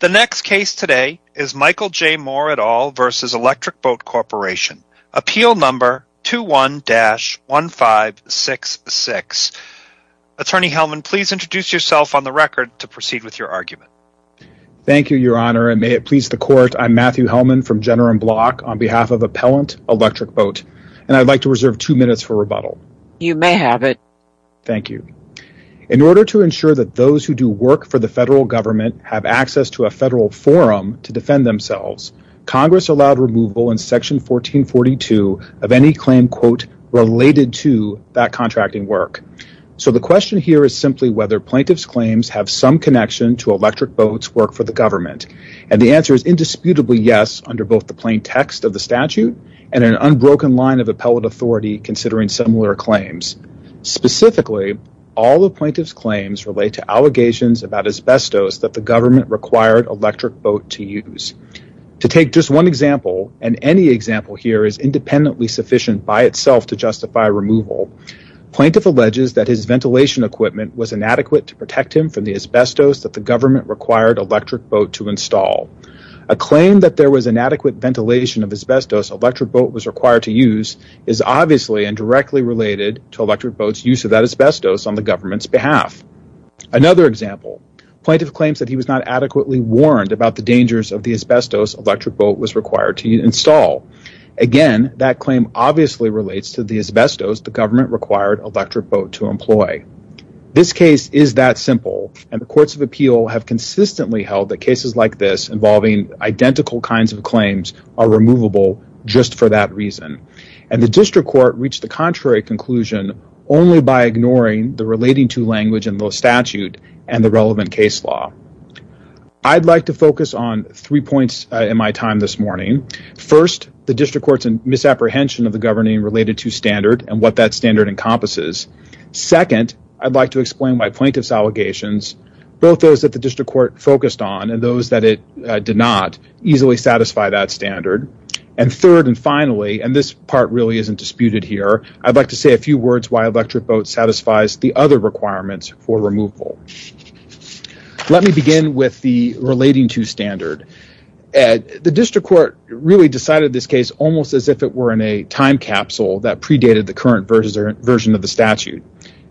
The next case today is Michael J. Moore et al. v. Electric Boat Corporation, Appeal Number 21-1566. Attorney Hellman, please introduce yourself on the record to proceed with your argument. Thank you, Your Honor, and may it please the Court, I'm Matthew Hellman from Jenner & Block on behalf of Appellant Electric Boat, and I'd like to reserve two minutes for rebuttal. You may have it. Thank you. In order to ensure that those who do work for the federal government have access to a federal forum to defend themselves, Congress allowed removal in Section 1442 of any claim, quote, related to that contracting work. So the question here is simply whether plaintiff's claims have some connection to electric boats' work for the government, and the answer is indisputably yes under both the plain text of the statute and an unbroken line of appellate authority considering similar claims. Specifically, all the plaintiff's claims relate to allegations about asbestos that the government required electric boat to use. To take just one example, and any example here is independently sufficient by itself to justify removal, plaintiff alleges that his ventilation equipment was inadequate to protect him from the asbestos that the government required electric boat to install. A claim that there was inadequate ventilation of asbestos electric boat was required to use is obviously and directly related to electric boats' use of that asbestos on the government's behalf. Another example, plaintiff claims that he was not adequately warned about the dangers of the asbestos electric boat was required to install. Again, that claim obviously relates to the asbestos the government required electric boat to employ. This case is that simple, and the courts of appeal have consistently held that cases like this involving identical kinds of claims are removable just for that reason. The district court reached the contrary conclusion only by ignoring the relating to language in the statute and the relevant case law. I'd like to focus on three points in my time this morning. First, the district court's misapprehension of the governing related to standard and what that standard encompasses. Second, I'd like to explain my plaintiff's both those that the district court focused on and those that it did not easily satisfy that standard. Third, and finally, and this part really isn't disputed here, I'd like to say a few words why electric boat satisfies the other requirements for removal. Let me begin with the relating to standard. The district court really decided this case almost as if it were in a time capsule that predated the current version of the statute.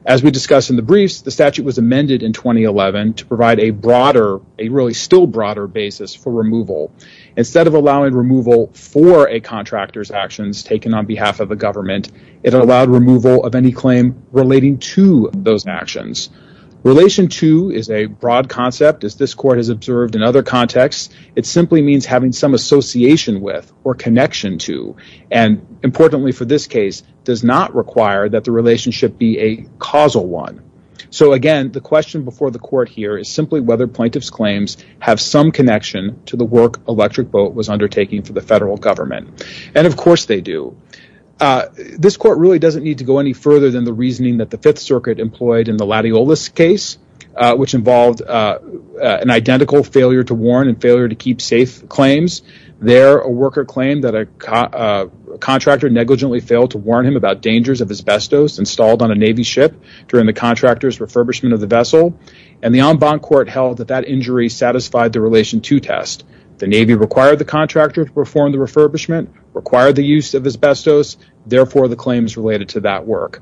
As we discussed in the briefs, the statute was amended in 2011 to provide a broader, a really still broader basis for removal. Instead of allowing removal for a contractor's actions taken on behalf of the government, it allowed removal of any claim relating to those actions. Relation to is a broad concept. As this court has observed in other contexts, it simply means having some association with or connection to. Importantly for this case, it does not require that the relationship be a causal one. Again, the question before the court here is simply whether plaintiff's claims have some connection to the work electric boat was undertaking for the federal government. Of course, they do. This court really doesn't need to go any further than the reasoning that the Fifth Circuit employed in the Latiolus case, which involved an identical failure to warn and contractor negligently failed to warn him about dangers of asbestos installed on a Navy ship during the contractor's refurbishment of the vessel. The en banc court held that that injury satisfied the relation to test. The Navy required the contractor to perform the refurbishment, required the use of asbestos. Therefore, the claims related to that work.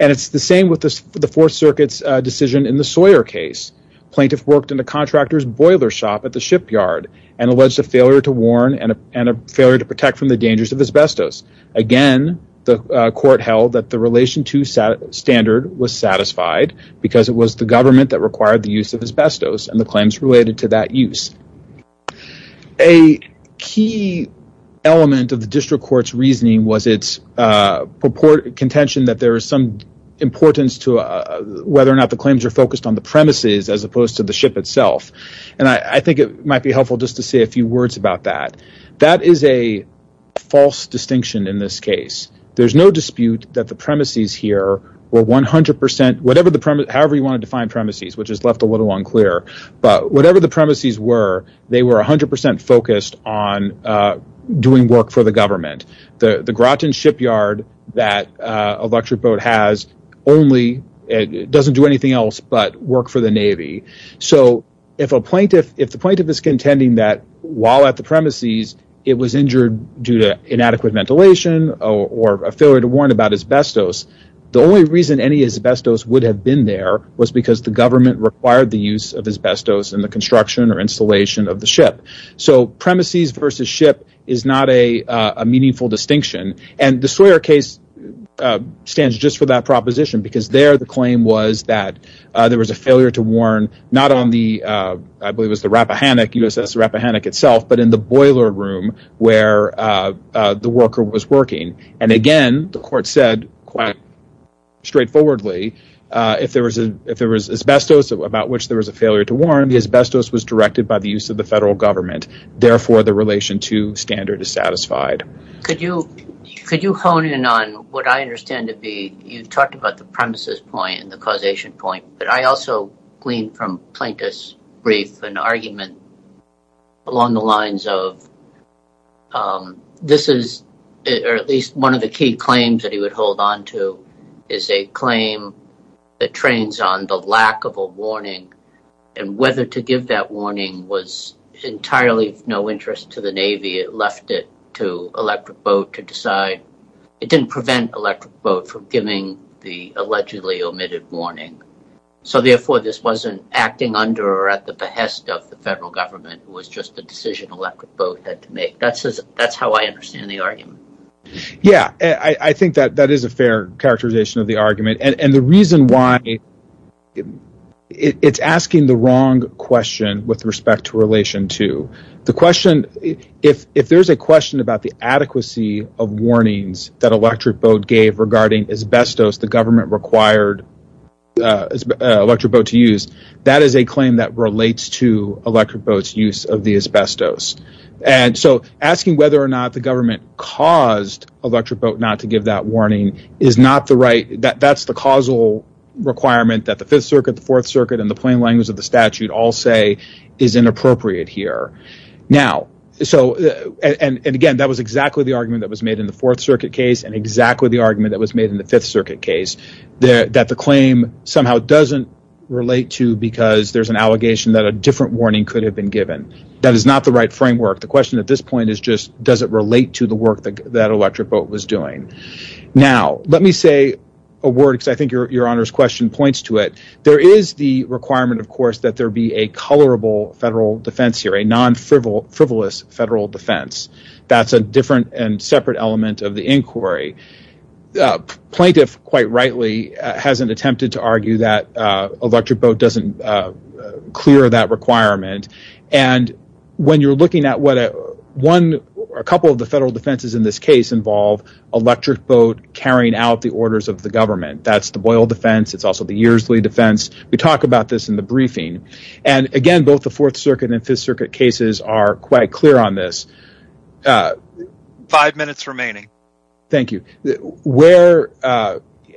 It's the same with the Fourth Circuit's decision in the Sawyer case. Plaintiff worked in a contractor's boiler shop at the shipyard and alleged a failure to warn and a failure to dangerous of asbestos. Again, the court held that the relation to standard was satisfied because it was the government that required the use of asbestos and the claims related to that use. A key element of the district court's reasoning was its contention that there is some importance to whether or not the claims are focused on the premises as opposed to the ship itself. I think it might be helpful just to say a few words about that. That is a false distinction in this case. There's no dispute that the premises here were 100 percent, however you want to define premises, which is left a little unclear, but whatever the premises were, they were 100 percent focused on doing work for the government. The Groton shipyard that a luxury If the plaintiff is contending that while at the premises, it was injured due to inadequate ventilation or a failure to warn about asbestos, the only reason any asbestos would have been there was because the government required the use of asbestos in the construction or installation of the ship. Premises versus ship is not a meaningful distinction. The Sawyer case stands just for that proposition because there the claim was that there was a failure to warn not on the U.S.S. Rappahannock itself, but in the boiler room where the worker was working. And again, the court said quite straightforwardly, if there was asbestos about which there was a failure to warn, the asbestos was directed by the use of the federal government. Therefore, the relation to standard is satisfied. Could you hone in on what I understand to be, you've talked about the premises point and the causation point, but I also gleaned from Plaintiff's brief an argument along the lines of this is at least one of the key claims that he would hold on to is a claim that trains on the lack of a warning and whether to give that warning was entirely of no interest to the Navy. It left it to Electric Boat to decide. It didn't prevent Electric Boat from giving the allegedly omitted warning. So therefore, this wasn't acting under or at the behest of the federal government. It was just a decision Electric Boat had to make. That's how I understand the argument. Yeah, I think that is a fair characterization of the argument and the reason why it's asking the wrong question with respect to relation to the question. If there's a question about the adequacy of warnings that Electric Boat gave regarding asbestos, the government required Electric Boat to use, that is a claim that relates to Electric Boat's use of the asbestos. And so asking whether or not the government caused Electric Boat not to give that warning is not the right. That's the causal requirement that the Fifth Circuit, the Fourth Circuit and the plain language of the case. And again, that was exactly the argument that was made in the Fourth Circuit case and exactly the argument that was made in the Fifth Circuit case that the claim somehow doesn't relate to because there's an allegation that a different warning could have been given. That is not the right framework. The question at this point is just, does it relate to the work that Electric Boat was doing? Now, let me say a word because I think your Honor's question points to it. There is the requirement, of course, that there be a colorable federal defense here, a non-frivolous federal defense. That's a different and separate element of the inquiry. Plaintiff, quite rightly, hasn't attempted to argue that Electric Boat doesn't clear that requirement. And when you're looking at what one or a couple of the federal defenses in this case involve Electric Boat carrying out the orders of the government, that's the Boyle defense. It's also the Earsley defense. We talk about this in the briefing. And again, both the Fourth Circuit and Fifth Circuit cases are quite clear on this. Five minutes remaining. Thank you.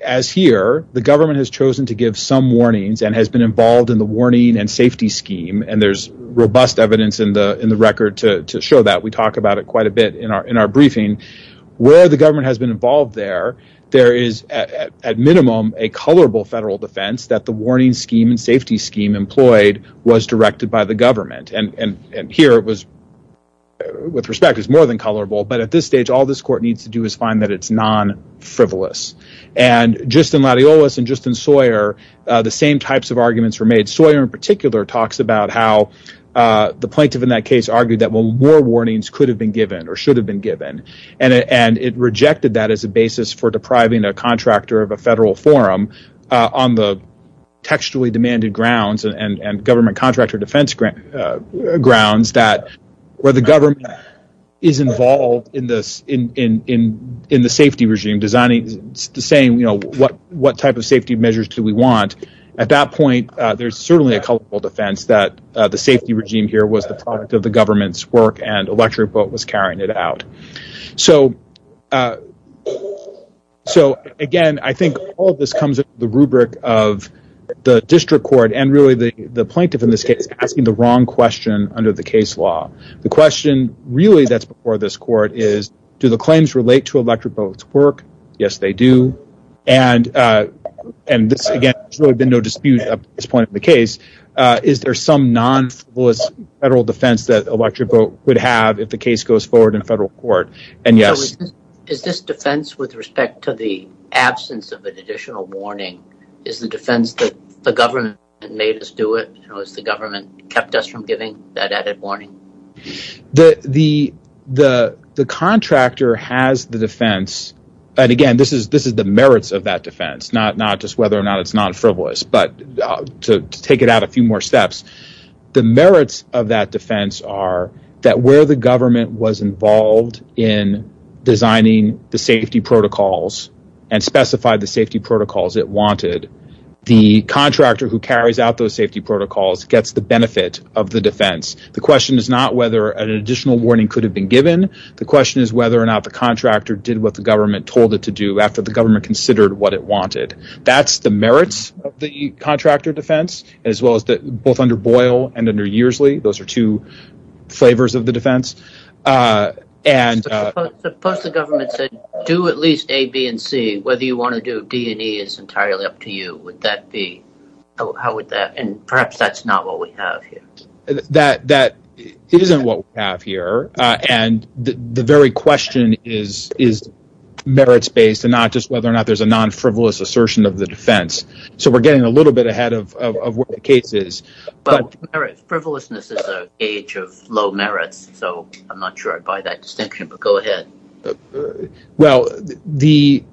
As here, the government has chosen to give some warnings and has been involved in the warning and safety scheme. And there's robust evidence in the record to show that. We talk about it quite a bit in our briefing. Where the government has been involved there, there is, at minimum, a colorable federal defense that the warning scheme and safety scheme employed was directed by the government. And here, it was, with respect, is more than colorable. But at this stage, all this court needs to do is find that it's non-frivolous. And just in Latiolus and just in Sawyer, the same types of arguments were made. Sawyer, in particular, talks about how the plaintiff in that case argued that more warnings could have been given or should have been given. And it rejected that as a basis for depriving a contractor of a federal forum on the textually demanded grounds and government contractor defense grounds that where the government is involved in the safety regime, designing the same, what type of safety measures do we want? At that point, there's certainly a colorful defense that the safety regime here was the product of the government's work and Electric Boat was carrying it out. So again, I think all of this comes with the rubric of the district court and really the plaintiff in this case asking the wrong question under the case law. The question really that's before this court is, do the claims relate to Electric Boat's work? Yes, they do. And this, again, there's really been no dispute at this point in the case. Is there some non-frivolous federal defense that Electric Boat would have if the case goes forward in federal court? And yes. Is this defense with respect to the absence of an additional warning? Is the defense that the government made us do it? Has the government kept us from giving that added warning? The contractor has the defense. And again, this is the merits of that defense, not just whether it's non-frivolous. But to take it out a few more steps, the merits of that defense are that where the government was involved in designing the safety protocols and specified the safety protocols it wanted, the contractor who carries out those safety protocols gets the benefit of the defense. The question is not whether an additional warning could have been given. The question is whether or not the contractor did what the government told it to do after the merits of the contractor defense, as well as both under Boyle and under Yearsley. Those are two flavors of the defense. Suppose the government said, do at least A, B, and C. Whether you want to do D and E is entirely up to you. Would that be? How would that? And perhaps that's not what we have here. That isn't what we have here. And the very question is merits-based and not just a non-frivolous assertion of the defense. So we're getting a little bit ahead of where the case is. Frivolousness is an age of low merits. So I'm not sure I'd buy that distinction, but go ahead. Well, the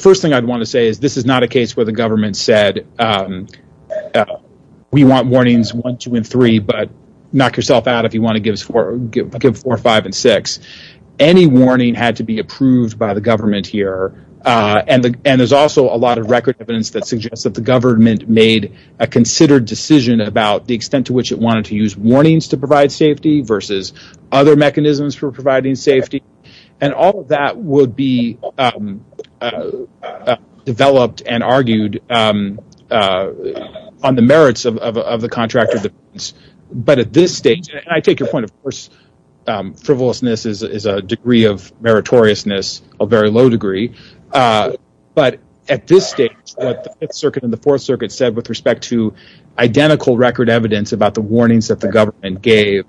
first thing I'd want to say is this is not a case where the government said, we want warnings 1, 2, and 3, but knock yourself out if you want to give 4, 5, and 6. Any warning had to be approved by the government here. And there's also a lot of record evidence that suggests that the government made a considered decision about the extent to which it wanted to use warnings to provide safety versus other mechanisms for providing safety. And all of that would be developed and argued on the merits of the contractor defense. But at this stage, and I take your point, of course, frivolousness is a degree of meritoriousness, a very low degree. But at this stage, what the Fifth Circuit and the Fourth Circuit said with respect to identical record evidence about the warnings that the government gave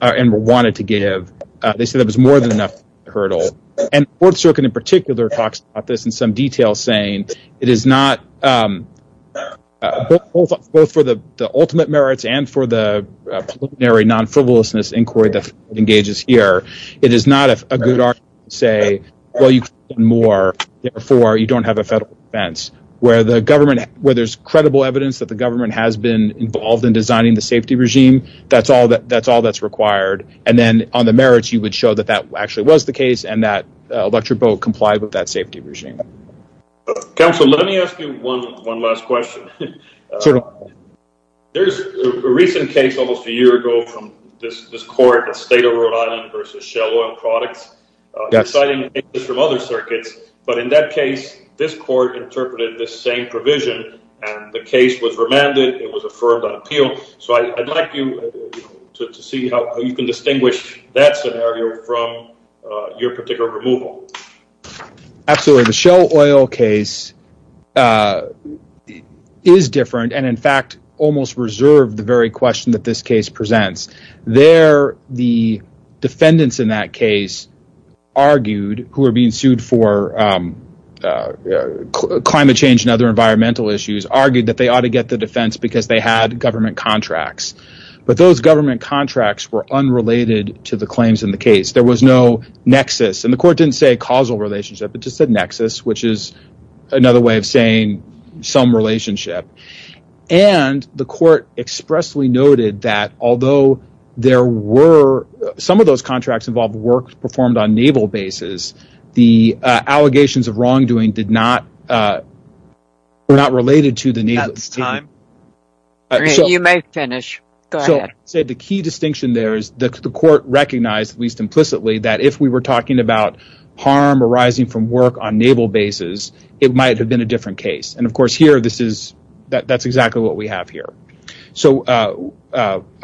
and wanted to give, they said it was more than enough of a hurdle. And the Fourth Circuit in particular talks about this in some detail, saying it is not both for the ultimate merits and for the preliminary non-frivolousness inquiry that engages here. It is not a good argument to say, well, you can do more. Therefore, you don't have a federal defense. Where there's credible evidence that the government has been involved in designing the safety regime, that's all that's required. And then on the merits, you would show that that actually was the case and that safety regime. Counsel, let me ask you one last question. There's a recent case almost a year ago from this court, the state of Rhode Island versus Shell Oil Products, deciding from other circuits. But in that case, this court interpreted this same provision, and the case was remanded. It was affirmed on appeal. So I'd like you to see how you can distinguish that scenario from your particular removal. Absolutely. The Shell Oil case is different, and in fact, almost reserved the very question that this case presents. There, the defendants in that case argued, who were being sued for climate change and other environmental issues, argued that they ought to get the defense because they had government contracts. But those government contracts were unrelated to the claims in the case. There was no nexus. And the court didn't say causal relationship. It just said nexus, which is another way of saying some relationship. And the court expressly noted that although there were, some of those contracts involved work performed on naval bases, the allegations of wrongdoing did not, were not related to the time. You may finish. Go ahead. The key distinction there is that the court recognized, at least implicitly, that if we were talking about harm arising from work on naval bases, it might have been a different case. And of course, here, this is, that's exactly what we have here. So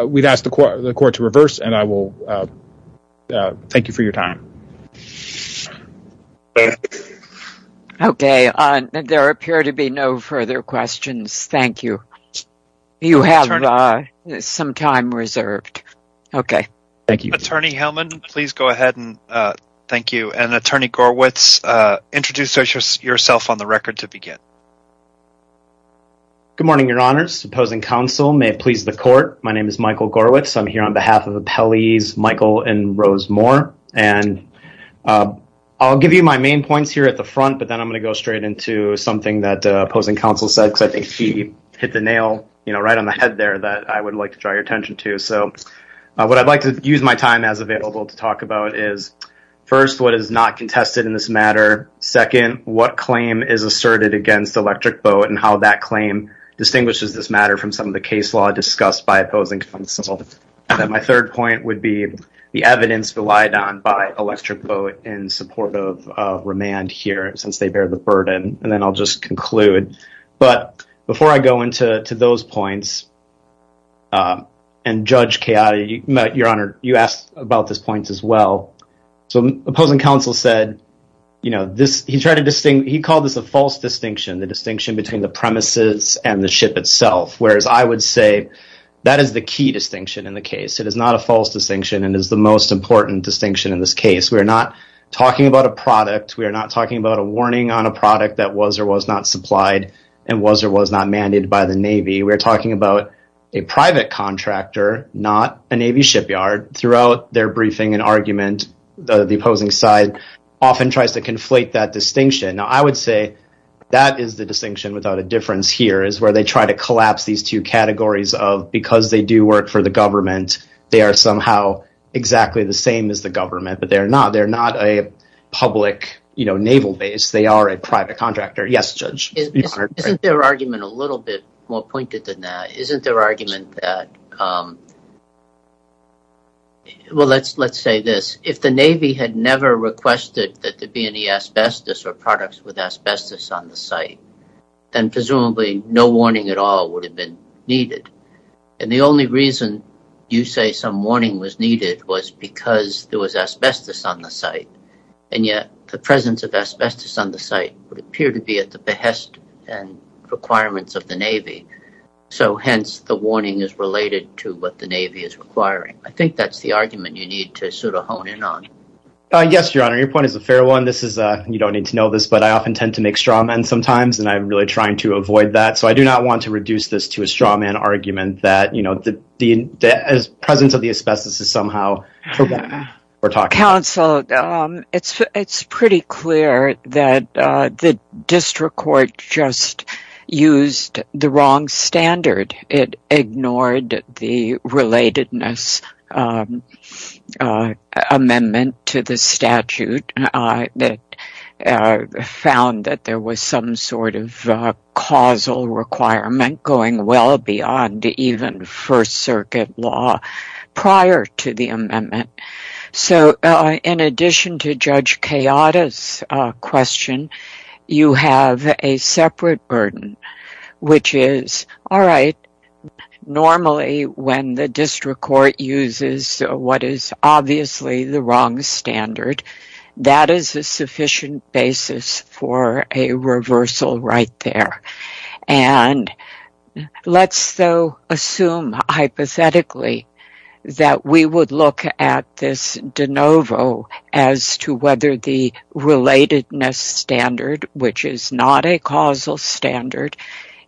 we've asked the court to reverse, and I will thank you for your time. Thank you. Okay. There appear to be no further questions. Thank you. You have some time reserved. Okay. Thank you. Attorney Hellman, please go ahead and thank you. And Attorney Gorwitz, introduce yourself on the record to begin. Good morning, your honors. Opposing counsel. May it please the court. My name is Michael and Rose Moore, and I'll give you my main points here at the front, but then I'm going to go straight into something that opposing counsel said, because I think he hit the nail right on the head there that I would like to draw your attention to. So what I'd like to use my time as available to talk about is first, what is not contested in this matter. Second, what claim is asserted against Electric Boat and how that claim distinguishes this matter from some of the case law discussed by opposing counsel. And then my third point would be the evidence relied on by Electric Boat in support of remand here, since they bear the burden. And then I'll just conclude. But before I go into those points, and Judge Chiara, your honor, you asked about this point as well. So opposing counsel said, he called this a false distinction, the distinction between the That is the key distinction in the case. It is not a false distinction and is the most important distinction in this case. We are not talking about a product. We are not talking about a warning on a product that was or was not supplied and was or was not mandated by the Navy. We're talking about a private contractor, not a Navy shipyard. Throughout their briefing and argument, the opposing side often tries to conflate that distinction. Now, I would say that is the of because they do work for the government, they are somehow exactly the same as the government, but they're not. They're not a public, you know, naval base. They are a private contractor. Yes, Judge. Isn't their argument a little bit more pointed than that? Isn't their argument that, well, let's say this. If the Navy had never requested that there be any asbestos or products with asbestos on the site, then presumably no warning at all would have been needed. And the only reason you say some warning was needed was because there was asbestos on the site. And yet the presence of asbestos on the site would appear to be at the behest and requirements of the Navy. So, hence, the warning is related to what the Navy is requiring. I think that's the argument you need to sort of hone in on. Yes, Your Honor. Your point is a fair one. This is, you don't need to know this, but I often tend to make straw men sometimes and I'm really trying to avoid that. So, I do not want to reduce this to a straw man argument that, you know, the presence of the asbestos is somehow forbidden. Counsel, it's pretty clear that the district court just used the wrong standard. It ignored the relatedness of the amendment to the statute that found that there was some sort of causal requirement going well beyond even First Circuit law prior to the amendment. So, in addition to Judge Kayada's question, you have a separate burden, which is, all right, normally when the district court uses what is obviously the wrong standard, that is a sufficient basis for a reversal right there. And let's, though, assume hypothetically that we would look at this de novo as to whether the relatedness standard, which is not a causal standard,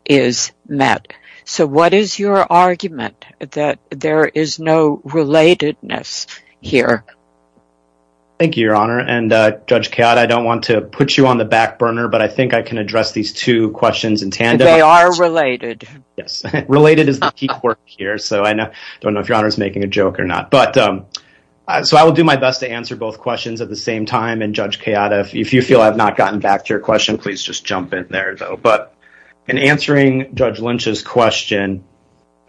is met. So, what is your argument that there is no relatedness here? Thank you, Your Honor. And Judge Kayada, I don't want to put you on the back burner, but I think I can address these two questions in tandem. They are related. Yes. Related is the key word here. So, I don't know if Your Honor is making a joke or not. But so, I will do my best to answer both questions at the same time. And Judge Kayada, if you feel I've not gotten back to your question, please just jump in there, though. But in answering Judge Lynch's question,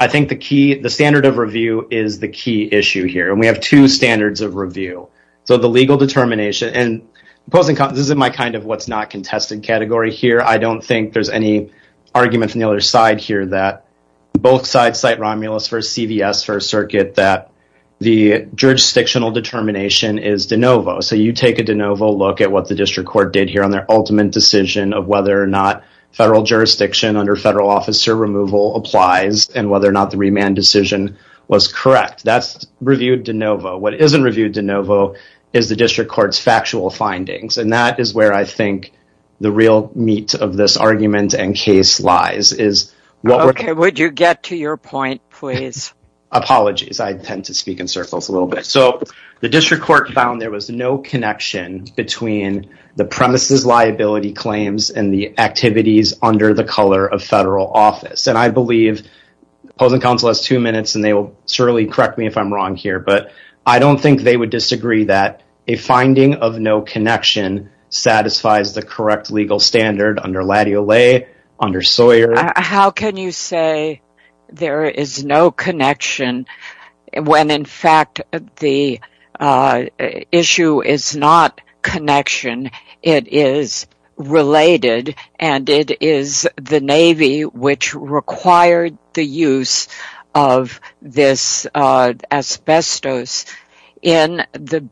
I think the standard of review is the key issue here. And we have two standards of review. So, the legal determination, and this is my kind of what's not contested category here. I don't think there's any arguments on the other side here that both sides cite Romulus v. CVS, First Circuit, that the jurisdictional determination is de novo. So, you take a de novo look at what the District Court did here on their ultimate decision of whether or not federal jurisdiction under federal officer removal applies and whether or not the remand decision was correct. That's reviewed de novo. What isn't reviewed de novo is the District Court's factual findings. And that is where I think the real meat of this argument and case lies. Okay. Would you get to your point, please? Apologies. I tend to speak in circles a little bit. So, the District Court found there was no connection between the premise's liability claims and the activities under the color of federal office. And I believe opposing counsel has two minutes, and they will surely correct me if I'm wrong here. But I don't think they would disagree that a finding of no connection satisfies the correct legal standard under Latty-O-Lay, under Sawyer. How can you say there is no connection when, in fact, the issue is not connection? It is related, and it is the Navy which required the use of this asbestos in the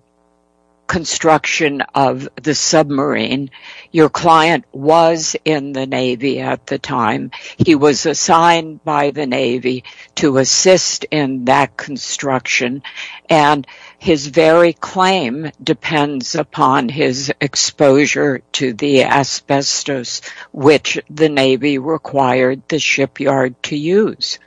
construction of the submarine. Your client was in the Navy at the time. He was assigned by the Navy to assist in that construction. And his very claim depends upon his exposure to the asbestos, which the Navy required the shipyard to use.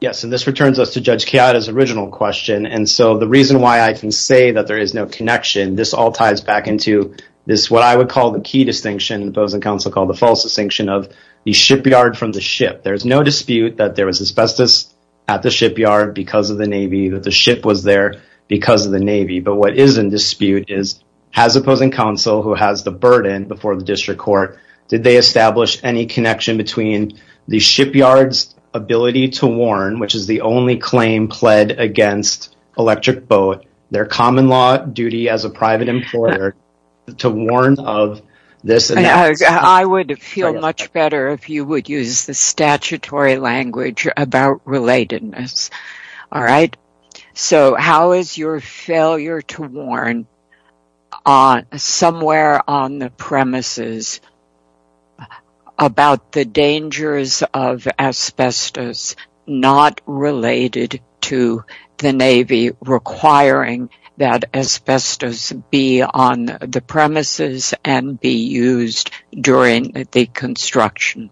Yes. And this returns us to Judge Chiara's original question. And so, the reason why I can that there is no connection, this all ties back into this, what I would call the key distinction, opposing counsel called the false distinction of the shipyard from the ship. There's no dispute that there was asbestos at the shipyard because of the Navy, that the ship was there because of the Navy. But what is in dispute is, has opposing counsel, who has the burden before the District Court, did they establish any connection between the shipyard's ability to warn, which is the only claim pled against Electric Boat, their common law duty as a private employer, to warn of this? I would feel much better if you would use the statutory language about relatedness. All right. So, how is your failure to warn somewhere on the premises about the dangers of asbestos, not related to the Navy requiring that asbestos be on the premises and be used during the construction?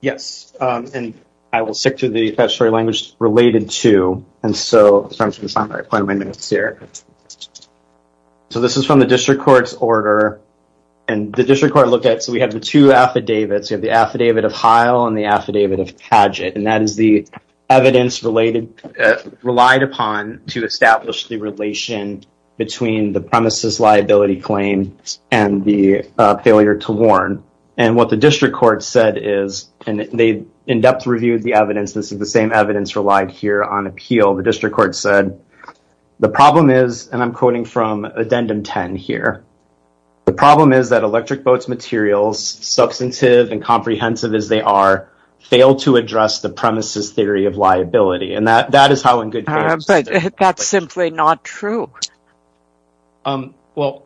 Yes. And I will stick to the statutory language related to. And so, I'm just going to stop there. I plan on my notes here. So, this is from the District Court's order. And the District Court looked at, so we have the two affidavits. We have the affidavit of Heil and the affidavit of Heil. And that is the evidence relied upon to establish the relation between the premises liability claim and the failure to warn. And what the District Court said is, and they in-depth reviewed the evidence, this is the same evidence relied here on appeal. The District Court said, the problem is, and I'm quoting from Addendum 10 here, the problem is that Electric Boat's materials, substantive and comprehensive as they are, fail to address the premises theory of liability. And that is how in good faith... But that's simply not true. Well,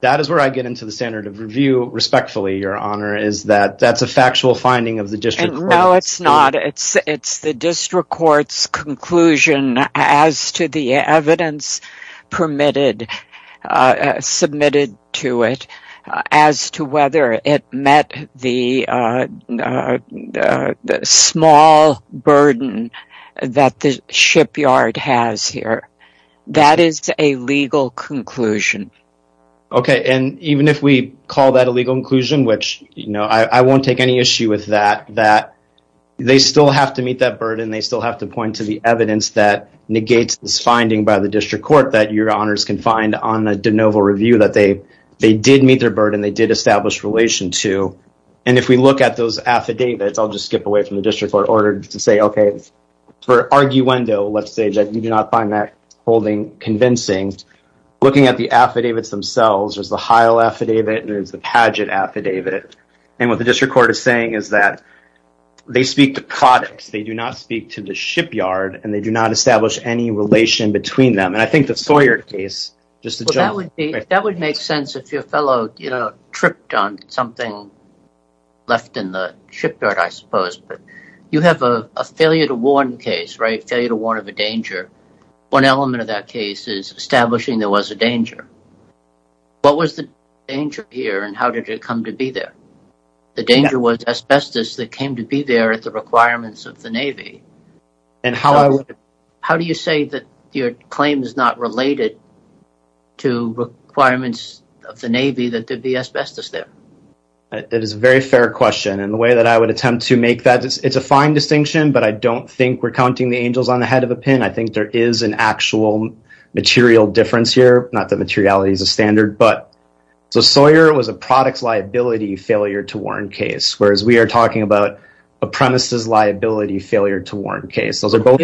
that is where I get into the standard of review respectfully, Your Honor, is that that's a factual finding of the District Court. No, it's not. It's the District Court's conclusion as to the evidence permitted, submitted to it, as to whether it met the small burden that the shipyard has here. That is a legal conclusion. Okay. And even if we call that a legal conclusion, which, you know, I won't take any issue with that, that they still have to meet that burden. They still have to point to the evidence that negates this finding by the District Court that Your Honors can find on the de novo review that they did meet their burden, they did establish relation to. And if we look at those affidavits, I'll just skip away from the District Court order to say, okay, for arguendo, let's say that you do not find that holding convincing, looking at the affidavits themselves, there's the Heil affidavit and there's the Paget affidavit. And what the District Court is saying is that they speak to products. They do not speak to the shipyard and they do not establish any relation between them. And I think the Sawyer case, just to jump in. That would make sense if your fellow, you know, tripped on something left in the shipyard, I suppose. But you have a failure to warn case, right? Failure to warn of a danger. One element of that case is establishing there was a danger. What was the danger here and how did it come to be there? The danger was asbestos that came to be there at the requirements of the Navy. And how do you say that your claim is not related to requirements of the Navy that there'd be asbestos there? It is a very fair question. And the way that I would attempt to make that, it's a fine distinction, but I don't think we're counting the angels on the head of a pin. I think there is an actual material difference here. Not that materiality is a standard, but so Sawyer was a products liability failure to warn case, whereas we are talking about a premises liability failure to warn case. Those are both.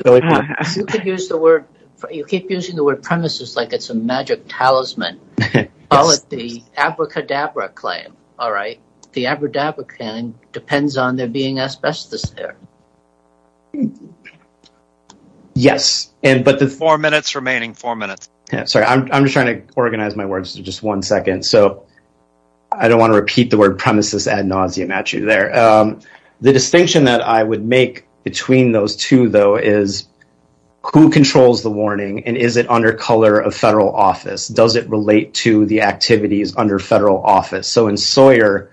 You keep using the word premises like it's a magic talisman, all of the abracadabra claim. All right. The abracadabra claim depends on there being asbestos. Yeah. Yes. And but the four minutes remaining, four minutes. Sorry. I'm just trying to organize my words to just one second. So I don't want to repeat the word premises ad nauseam at you there. The distinction that I would make between those two though is who controls the warning and is it under color of federal office? Does it relate to the activities under federal office? So in Sawyer,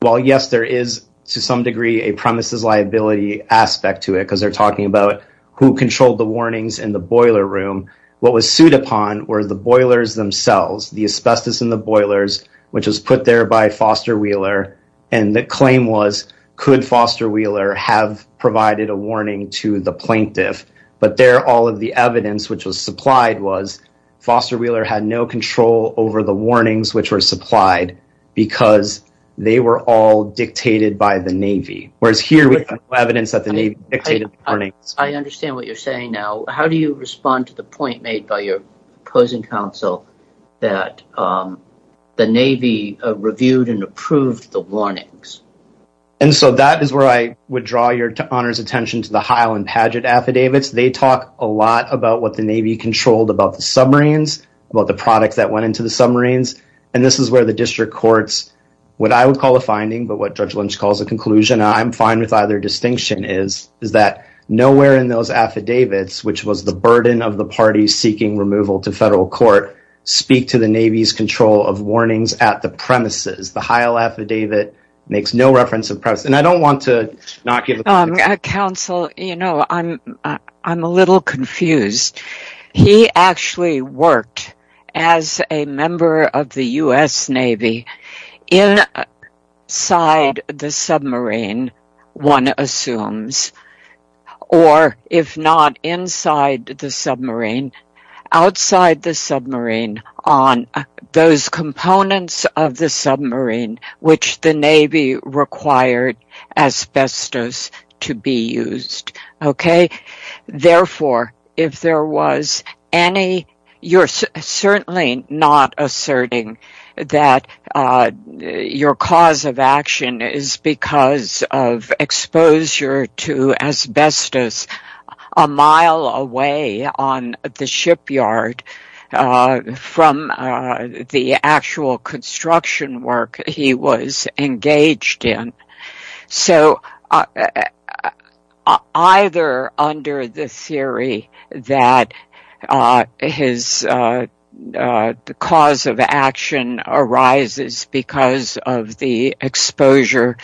while yes, there is to some degree a premises liability aspect to it because they're talking about who controlled the warnings in the boiler room, what was sued upon were the boilers themselves, the asbestos in the boilers, which was put there by Foster Wheeler. And the claim was, could Foster Wheeler have provided a warning to the plaintiff? But there, all of the evidence, which was supplied was Foster Wheeler had no control over the warnings which were supplied because they were all dictated by the Navy. Whereas here we have evidence that the Navy dictated warnings. I understand what you're saying now. How do you respond to the point made by your opposing counsel that the Navy reviewed and approved the warnings? And so that is where I would draw your honor's attention to the Highland Paget affidavits. They talk a lot about what the Navy controlled about the submarines, about the products that went into the submarines. And this is where the district courts, what I would call a finding, but what Judge Lynch calls a conclusion, I'm fine with either distinction is, is that nowhere in those affidavits, which was the burden of the parties seeking removal to federal court, speak to the Navy's control of warnings at the premises. The Heil affidavit makes no reference of premise. And I don't want to not give counsel, you know, I'm, I'm a little confused. He actually worked as a member of the U.S. Navy inside the submarine, one assumes, or if not inside the submarine, outside the submarine on those components of the submarine, which the Navy required asbestos to be used. Okay. Therefore, if there was any, you're certainly not asserting that your cause of action is because of exposure to asbestos a mile away on the shipyard or from the actual construction work he was engaged in. So either under the theory that his cause of action arises because of the exposure,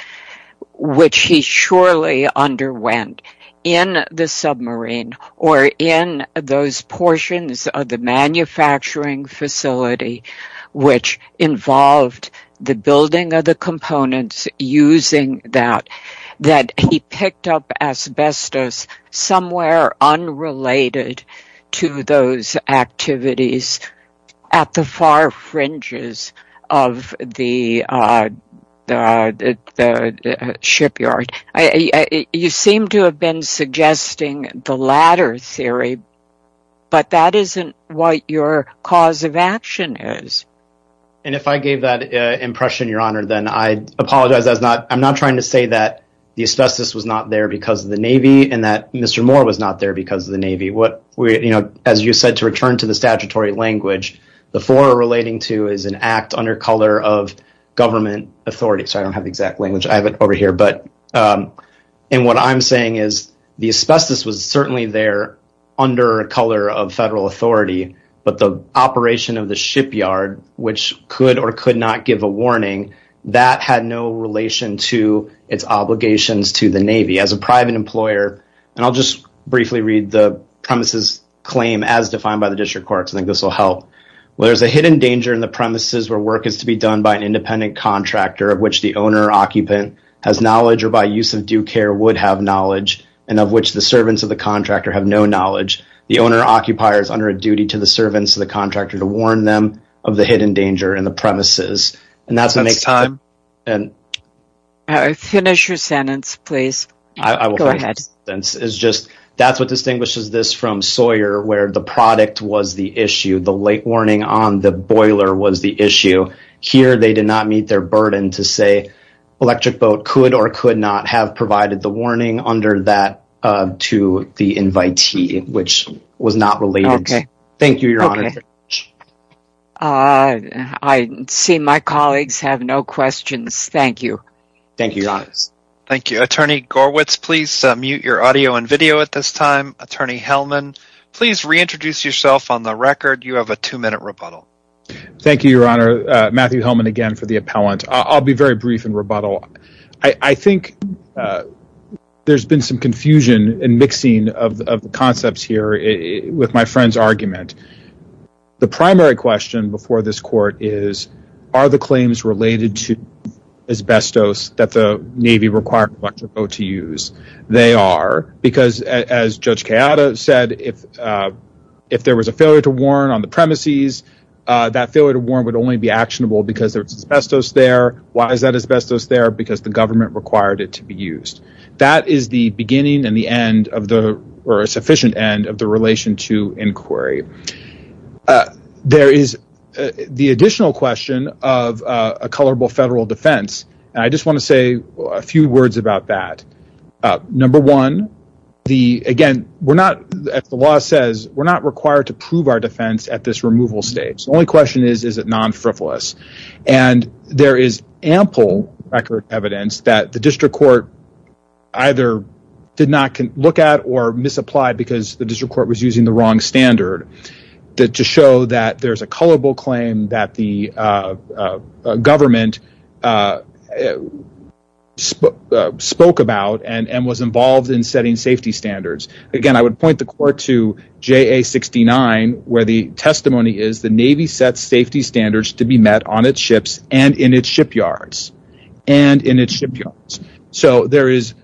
which he surely underwent in the submarine or in those portions of the manufacturing facility, which involved the building of the components using that, that he picked up asbestos somewhere unrelated to those activities at the far theory. But that isn't what your cause of action is. And if I gave that impression, your honor, then I apologize. That's not, I'm not trying to say that the asbestos was not there because of the Navy and that Mr. Moore was not there because of the Navy. What we, you know, as you said, to return to the statutory language, the four relating to is an act under color of government authority. So I don't have the exact language. I have it over here. But and what I'm saying is the asbestos was certainly there under a color of federal authority, but the operation of the shipyard, which could or could not give a warning that had no relation to its obligations to the Navy as a private employer. And I'll just briefly read the premises claim as defined by the district court. I think this will help. Well, there's a hidden danger in the premises where work is to be done by an independent contractor of which the owner occupant has knowledge or by use of due care would have knowledge and of which the servants of the contractor have no knowledge. The owner occupier is under a duty to the servants of the contractor to warn them of the hidden danger in the premises. And that's the next time. Finish your sentence, please. It's just, that's what distinguishes this from Sawyer where the product was the issue. The late to say Electric Boat could or could not have provided the warning under that to the invitee, which was not related. Thank you, Your Honor. I see my colleagues have no questions. Thank you. Thank you, Attorney Gorwitz. Please mute your audio and video at this time. Attorney Hellman, please reintroduce yourself on the record. You have a two minute rebuttal. Thank you, Your Honor. Matthew Hellman again for the appellant. I'll be very brief in rebuttal. I think there's been some confusion and mixing of the concepts here with my friend's argument. The primary question before this court is, are the claims related to asbestos that the Navy required Electric Boat to use? They are. Because as Judge Kayada said, if there was a failure to warn, it would only be actionable because there's asbestos there. Why is that asbestos there? Because the government required it to be used. That is the beginning and the end of the, or a sufficient end of the relation to inquiry. There is the additional question of a colorable federal defense. I just want to say a few words about that. Number one, again, we're not, as the law says, we're not is it non-frivolous? There is ample record evidence that the district court either did not look at or misapplied because the district court was using the wrong standard to show that there's a colorable claim that the government spoke about and was involved in setting safety standards. Again, I would point the court to JA69 where the testimony is the Navy sets safety standards to be met on its ships and in its shipyards. There is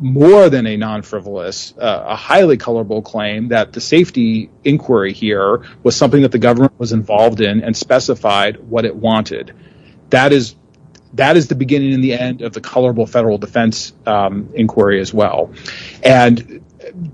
more than a non-frivolous, a highly colorable claim that the safety inquiry here was something that the government was involved in and specified what it wanted. That is the beginning and the end of the colorable federal defense inquiry as well.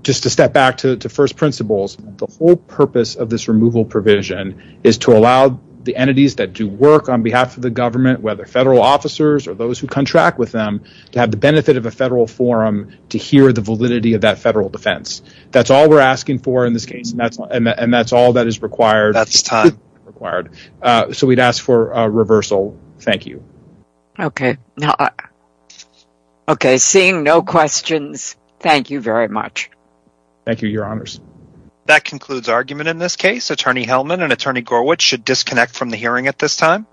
Just to step back to first principles, the whole purpose of this removal provision is to allow the entities that do work on behalf of the government, whether federal officers or those who contract with them, to have the benefit of a federal forum to hear the validity of that federal defense. That's all we're asking for in this case and that's all that is required. That's time required. So we'd ask for a reversal. Thank you. Okay. Okay. Seeing no questions. Thank you very much. Thank you. Your honors. That concludes argument in this case. Attorney Hellman and attorney Gorwich should disconnect from the hearing at this time.